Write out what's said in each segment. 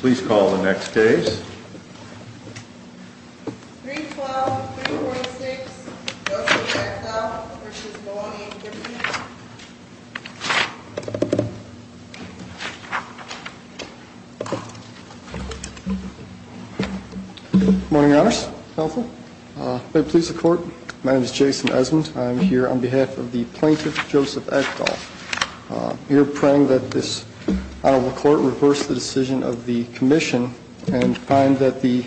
Please call the next case. 312-346 Joseph Ekdahl v. Baloney, Virginia Good morning, Your Honors. May it please the Court, my name is Jason Esmond. I am here on behalf of the plaintiff, Joseph Ekdahl. We are praying that this Honorable Court reverse the decision of the Commission and find that the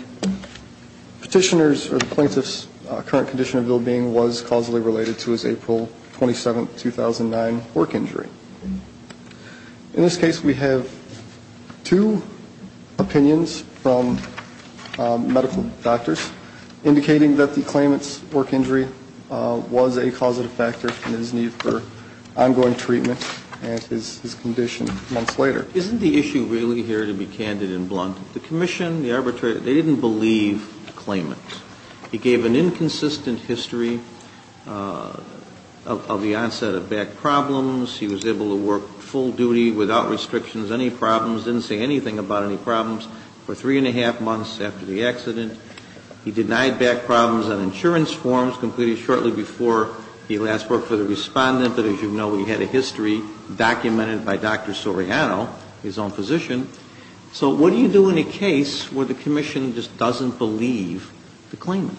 petitioner's or the plaintiff's current condition of well-being was causally related to his April 27, 2009, work injury. In this case, we have two opinions from medical doctors indicating that the claimant's work injury was a causative factor in his need for ongoing treatment and his condition months later. Isn't the issue really here, to be candid and blunt, the Commission, the arbitrator, they didn't believe the claimant. He gave an inconsistent history of the onset of back problems. He was able to work full duty without restrictions, any problems, didn't say anything about any problems for three and a half months after the accident. He denied back problems on insurance forms, completed shortly before he last worked for the Respondent, but as you know, he had a history documented by Dr. Soriano, his own physician. So what do you do in a case where the Commission just doesn't believe the claimant?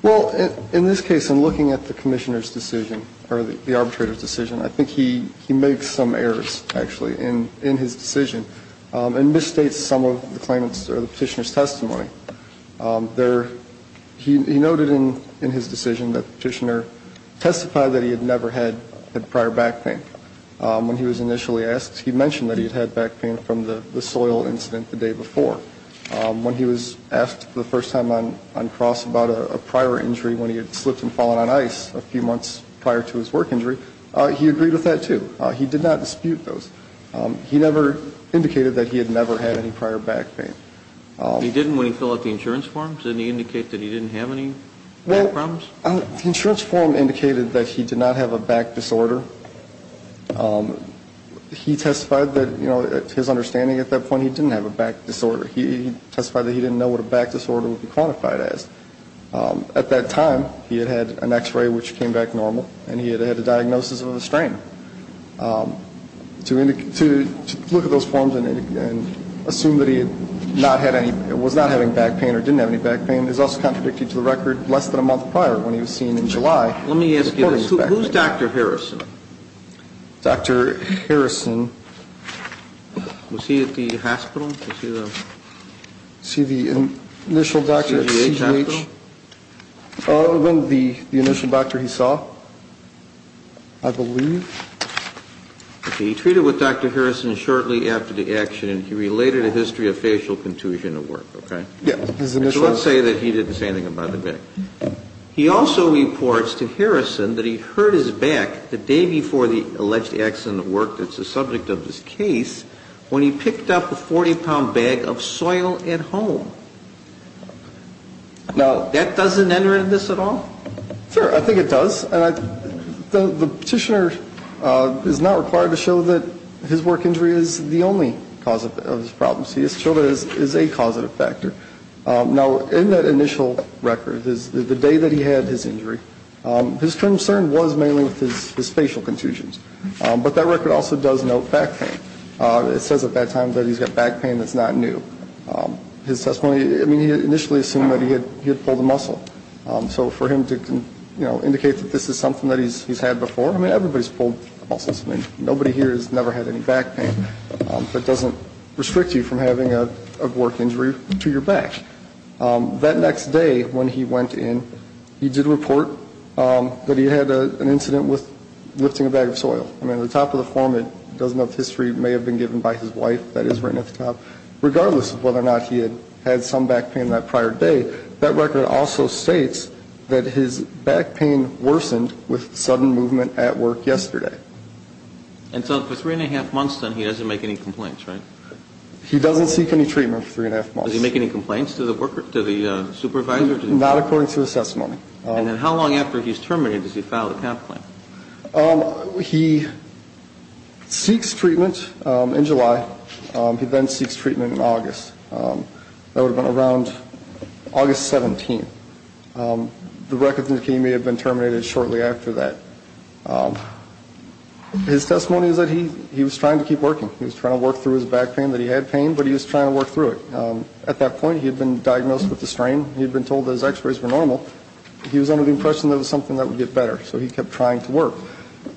Well, in this case, in looking at the Commissioner's decision or the arbitrator's decision, I think he makes some errors, actually, in his decision and misstates some of the claimant's or the petitioner's testimony. He noted in his decision that the petitioner testified that he had never had prior back pain. When he was initially asked, he mentioned that he had had back pain from the soil incident the day before. When he was asked for the first time on cross about a prior injury when he had slipped and fallen on ice a few months prior to his work injury, he agreed with that, too. He did not dispute those. He never indicated that he had never had any prior back pain. He didn't when he filled out the insurance form? Did he indicate that he didn't have any back problems? The insurance form indicated that he did not have a back disorder. He testified that, you know, to his understanding at that point, he didn't have a back disorder. He testified that he didn't know what a back disorder would be quantified as. At that time, he had had an X-ray, which came back normal, and he had had a diagnosis of a strain. To look at those forms and assume that he was not having back pain or didn't have any back pain is also contradictory to the record less than a month prior when he was seen in July. Let me ask you this. Who's Dr. Harrison? Dr. Harrison. Was he at the hospital? The initial doctor at CGH? Other than the initial doctor he saw, I believe. Okay. He treated with Dr. Harrison shortly after the accident. He related a history of facial contusion at work, okay? Yeah. So let's say that he didn't say anything about the back. He also reports to Harrison that he hurt his back the day before the alleged accident at work that's the subject of this case when he picked up a 40-pound bag of soil at home. Now, that doesn't enter into this at all? Sure. I think it does. And the petitioner is not required to show that his work injury is the only cause of his problems. He has to show that it is a causative factor. Now, in that initial record, the day that he had his injury, his concern was mainly with his facial contusions. But that record also does note back pain. It says at that time that he's got back pain that's not new. His testimony, I mean, he initially assumed that he had pulled a muscle. So for him to indicate that this is something that he's had before, I mean, everybody's pulled muscles. I mean, nobody here has never had any back pain. That doesn't restrict you from having a work injury to your back. That next day when he went in, he did report that he had an incident with lifting a bag of soil. I mean, at the top of the form, it does note history may have been given by his wife. That is written at the top. Regardless of whether or not he had had some back pain that prior day, that record also states that his back pain worsened with sudden movement at work yesterday. And so for three-and-a-half months, then, he doesn't make any complaints, right? He doesn't seek any treatment for three-and-a-half months. Does he make any complaints to the supervisor? Not according to his testimony. And then how long after he's terminated does he file a complaint? He seeks treatment in July. He then seeks treatment in August. That would have been around August 17th. The records indicate he may have been terminated shortly after that. His testimony is that he was trying to keep working. He was trying to work through his back pain, that he had pain, but he was trying to work through it. At that point, he had been diagnosed with a strain. He had been told that his x-rays were normal. He was under the impression that it was something that would get better. So he kept trying to work.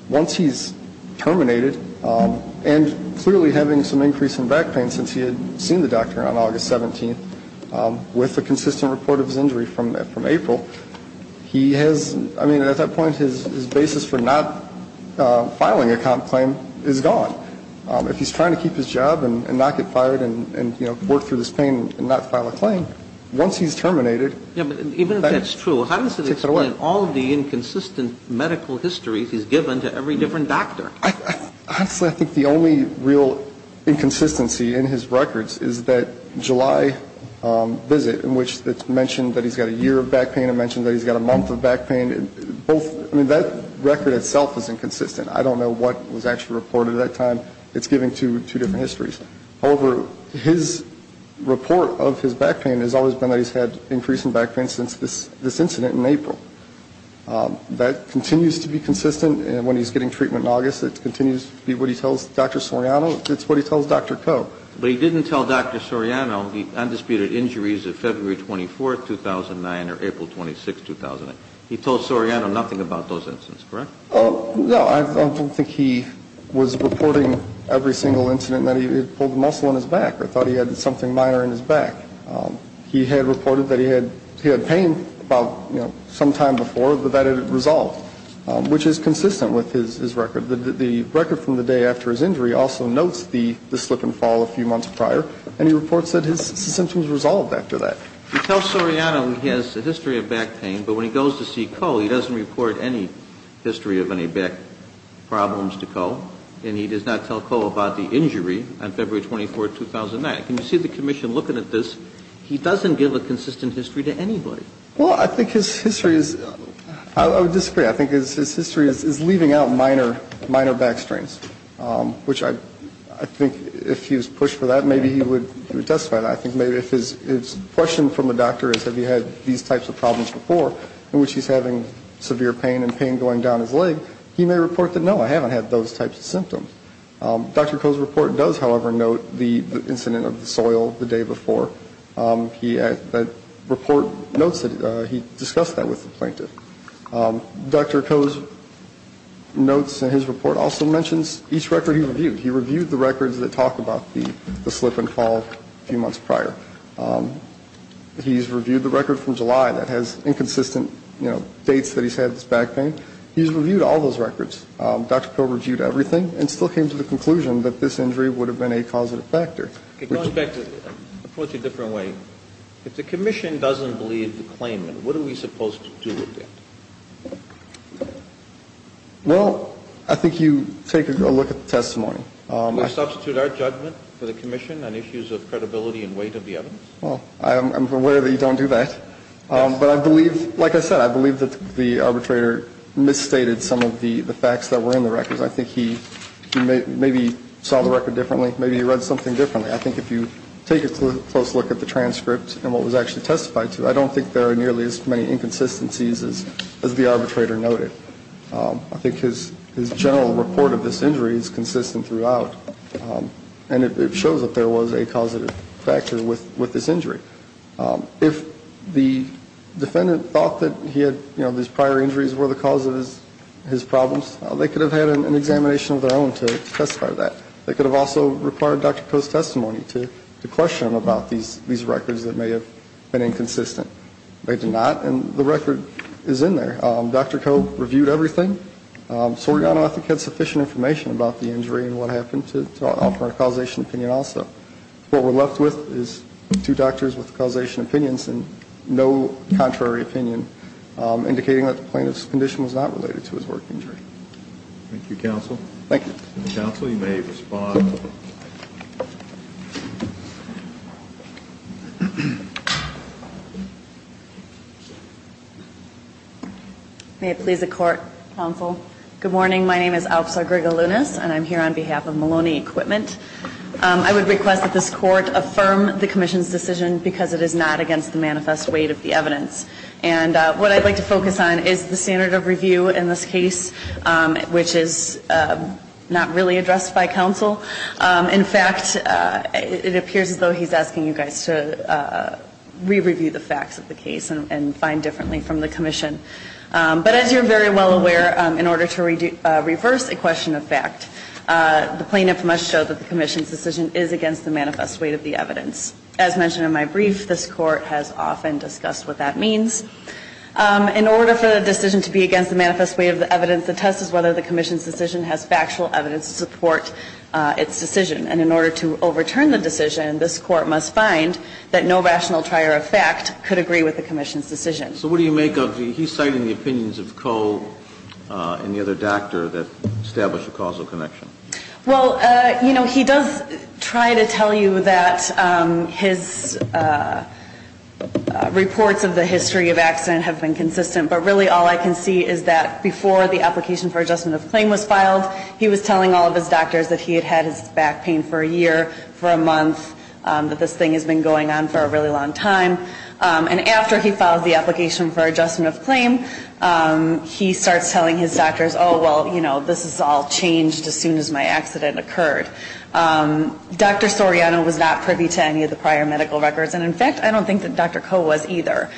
Once he's terminated, and clearly having some increase in back pain since he had seen the doctor on August 17th, with a consistent report of his injury from April, he has, I mean, at that point his basis for not filing a comp claim is gone. If he's trying to keep his job and not get fired and, you know, work through this pain and not file a claim, once he's terminated, Even if that's true, how does it explain all the inconsistent medical histories he's given to every different doctor? Honestly, I think the only real inconsistency in his records is that July visit, in which it's mentioned that he's got a year of back pain. It mentions that he's got a month of back pain. Both, I mean, that record itself is inconsistent. I don't know what was actually reported at that time. It's giving two different histories. However, his report of his back pain has always been that he's had increase in back pain since this incident in April. That continues to be consistent. When he's getting treatment in August, it continues to be what he tells Dr. Soriano. It's what he tells Dr. Koh. But he didn't tell Dr. Soriano the undisputed injuries of February 24th, 2009, or April 26th, 2008. He told Soriano nothing about those incidents, correct? No, I don't think he was reporting every single incident that he had pulled a muscle in his back or thought he had something minor in his back. He had reported that he had pain about, you know, sometime before, but that had resolved, which is consistent with his record. The record from the day after his injury also notes the slip and fall a few months prior, and he reports that his symptoms resolved after that. He tells Soriano he has a history of back pain, but when he goes to see Koh, he doesn't report any history of any back problems to Koh, and he does not tell Koh about the injury on February 24th, 2009. Can you see the commission looking at this? He doesn't give a consistent history to anybody. Well, I think his history is, I would disagree. I think his history is leaving out minor back strains, which I think if he was pushed for that, maybe he would testify to that. I think maybe if his question from the doctor is, have you had these types of problems before, in which he's having severe pain and pain going down his leg, he may report that, no, I haven't had those types of symptoms. Dr. Koh's report does, however, note the incident of the soil the day before. The report notes that he discussed that with the plaintiff. Dr. Koh's notes in his report also mentions each record he reviewed. He reviewed the records that talk about the slip and fall a few months prior. He's reviewed the record from July that has inconsistent, you know, dates that he's had this back pain. He's reviewed all those records. Dr. Koh reviewed everything and still came to the conclusion that this injury would have been a causative factor. Going back, I'll put it a different way. If the commission doesn't believe the claimant, what are we supposed to do with it? Well, I think you take a look at the testimony. Can we substitute our judgment for the commission on issues of credibility and weight of the evidence? Well, I'm aware that you don't do that. But I believe, like I said, I believe that the arbitrator misstated some of the facts that were in the records. I think he maybe saw the record differently. Maybe he read something differently. I think if you take a close look at the transcript and what was actually testified to, I don't think there are nearly as many inconsistencies as the arbitrator noted. I think his general report of this injury is consistent throughout, and it shows that there was a causative factor with this injury. If the defendant thought that he had, you know, these prior injuries were the cause of his problems, they could have had an examination of their own to testify to that. They could have also required Dr. Koh's testimony to question him about these records that may have been inconsistent. They did not, and the record is in there. Dr. Koh reviewed everything. Soriano, I think, had sufficient information about the injury and what happened to offer a causation opinion also. What we're left with is two doctors with causation opinions and no contrary opinion, indicating that the plaintiff's condition was not related to his work injury. Thank you, counsel. Thank you. Counsel, you may respond. May it please the court, counsel. Good morning. My name is Alpsar Grigalunas, and I'm here on behalf of Maloney Equipment. I would request that this court affirm the commission's decision because it is not against the manifest weight of the evidence. And what I'd like to focus on is the standard of review in this case, which is not really addressed by counsel. In fact, it appears as though he's asking you guys to re-review the facts of the case and find differently from the commission. But as you're very well aware, in order to reverse a question of fact, the plaintiff must show that the commission's decision is against the manifest weight of the evidence. As mentioned in my brief, this Court has often discussed what that means. In order for the decision to be against the manifest weight of the evidence, the test is whether the commission's decision has factual evidence to support its decision. And in order to overturn the decision, this Court must find that no rational trier of fact could agree with the commission's decision. So what do you make of the he's citing the opinions of Coe and the other doctor that establish a causal connection? Well, you know, he does try to tell you that his reports of the history of accident have been consistent. But really all I can see is that before the application for adjustment of claim was filed, he was telling all of his doctors that he had had his back pain for a year, for a month, that this thing has been going on for a really long time. And after he filed the application for adjustment of claim, he starts telling his doctors, oh, well, you know, this has all changed as soon as my accident occurred. Dr. Soriano was not privy to any of the prior medical records. And, in fact, I don't think that Dr. Coe was either.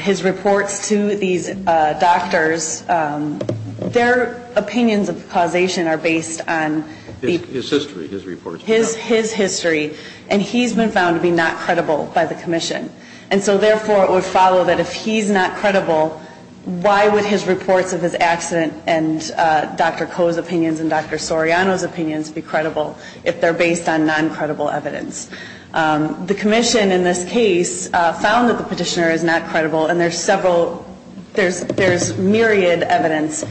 His reports to these doctors, their opinions of causation are based on the – His history, his reports. His history. And he's been found to be not credible by the commission. And so, therefore, it would follow that if he's not credible, why would his reports of his accident and Dr. Coe's opinions and Dr. Soriano's opinions be credible if they're based on non-credible evidence? The commission in this case found that the petitioner is not credible, and there's several – there's myriad evidence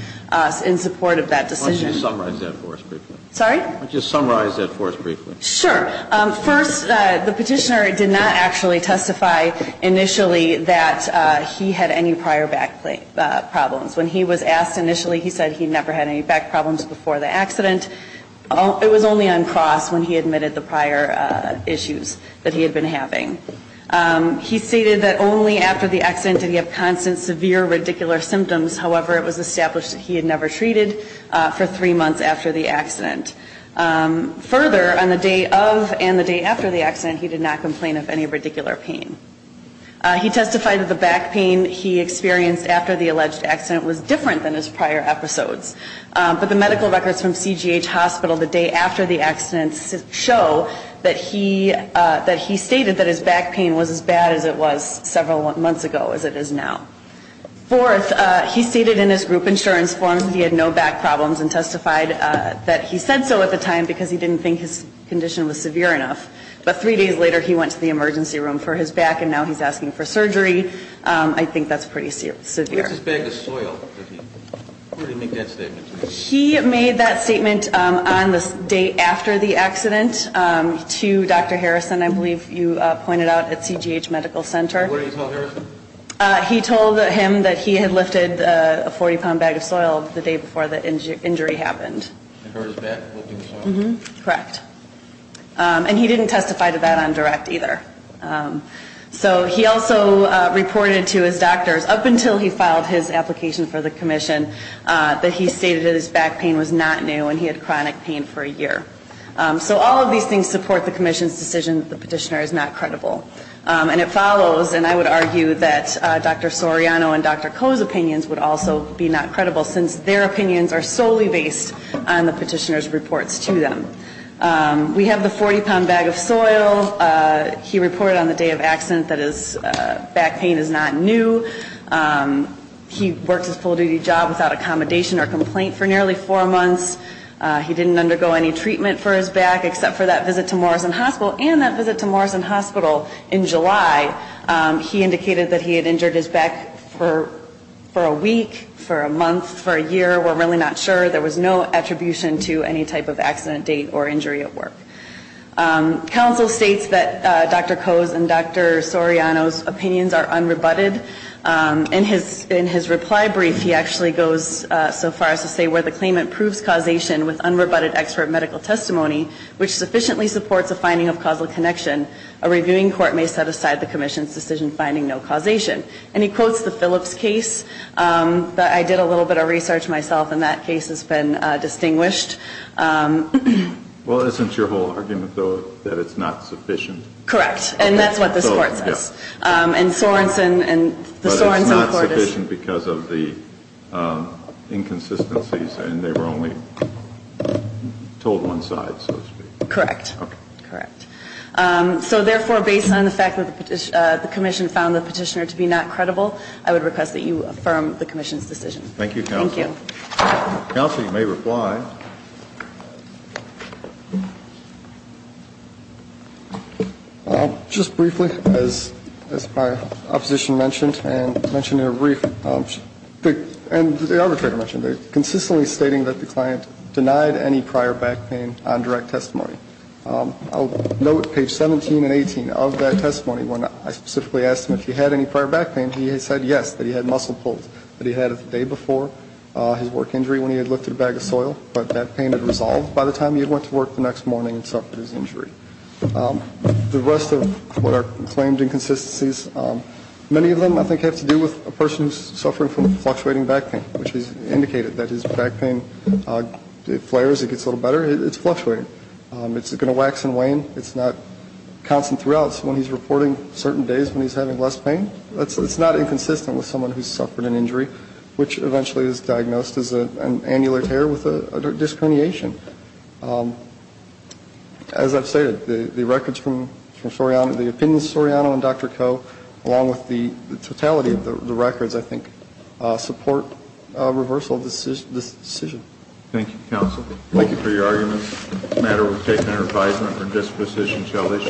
in support of that decision. Why don't you summarize that for us briefly? Sorry? Why don't you summarize that for us briefly? Sure. First, the petitioner did not actually testify initially that he had any prior back problems. When he was asked initially, he said he never had any back problems before the accident. It was only uncrossed when he admitted the prior issues that he had been having. He stated that only after the accident did he have constant severe radicular symptoms. However, it was established that he had never treated for three months after the accident. Further, on the day of and the day after the accident, he did not complain of any radicular pain. He testified that the back pain he experienced after the alleged accident was different than his prior episodes. But the medical records from CGH Hospital the day after the accident show that he stated that his back pain was as bad as it was several months ago as it is now. Fourth, he stated in his group insurance form that he had no back problems and testified that he said so at the time because he didn't think his condition was severe enough. But three days later, he went to the emergency room for his back and now he's asking for surgery. I think that's pretty severe. Where's his bag of soil? Where did he make that statement? He made that statement on the day after the accident to Dr. Harrison, I believe you pointed out, at CGH Medical Center. What did he tell Harrison? He told him that he had lifted a 40-pound bag of soil the day before the injury happened. I heard his back lifting soil. Correct. And he didn't testify to that on direct either. So he also reported to his doctors, up until he filed his application for the commission, that he stated that his back pain was not new and he had chronic pain for a year. So all of these things support the commission's decision that the petitioner is not credible. And it follows, and I would argue that Dr. Soriano and Dr. Koh's opinions would also be not credible since their opinions are solely based on the petitioner's reports to them. We have the 40-pound bag of soil. He reported on the day of accident that his back pain is not new. He worked his full-duty job without accommodation or complaint for nearly four months. He didn't undergo any treatment for his back except for that visit to Morrison Hospital and that visit to Morrison Hospital in July. He indicated that he had injured his back for a week, for a month, for a year. We're really not sure. There was no attribution to any type of accident date or injury at work. Counsel states that Dr. Koh's and Dr. Soriano's opinions are unrebutted. In his reply brief, he actually goes so far as to say where the claimant proves causation with unrebutted expert medical testimony, which sufficiently supports a finding of causal connection, a reviewing court may set aside the commission's decision finding no causation. And he quotes the Phillips case that I did a little bit of research myself, and that case has been distinguished. Well, isn't your whole argument, though, that it's not sufficient? Correct. And that's what this Court says. And Sorenson and the Sorenson Court is –– sufficient because of the inconsistencies and they were only told one side, so to speak. Correct. Okay. Correct. So, therefore, based on the fact that the commission found the petitioner to be not credible, I would request that you affirm the commission's decision. Thank you, Counsel. Thank you. Counsel, you may reply. Just briefly, as my opposition mentioned, and mentioned in a brief, and the arbitrator mentioned it, consistently stating that the client denied any prior back pain on direct testimony. I'll note page 17 and 18 of that testimony when I specifically asked him if he had any prior back pain. He said yes, that he had muscle pulls, that he had the day before his work injury when he had lifted a bag of soil. But that pain had resolved by the time he went to work the next morning and suffered his injury. The rest of what are claimed inconsistencies, many of them I think have to do with a person who's suffering from fluctuating back pain, which is indicated that his back pain flares, it gets a little better, it's fluctuating. It's going to wax and wane. It's not constant throughout. When he's reporting certain days when he's having less pain, it's not inconsistent with someone who's suffered an injury, which eventually is diagnosed as an annular tear with a disc herniation. As I've stated, the records from Soriano, the opinions of Soriano and Dr. Koh, along with the totality of the records, I think, support a reversal of this decision. Thank you, counsel. Thank you. For your arguments, the matter was taken under advisement for disposition shall issue.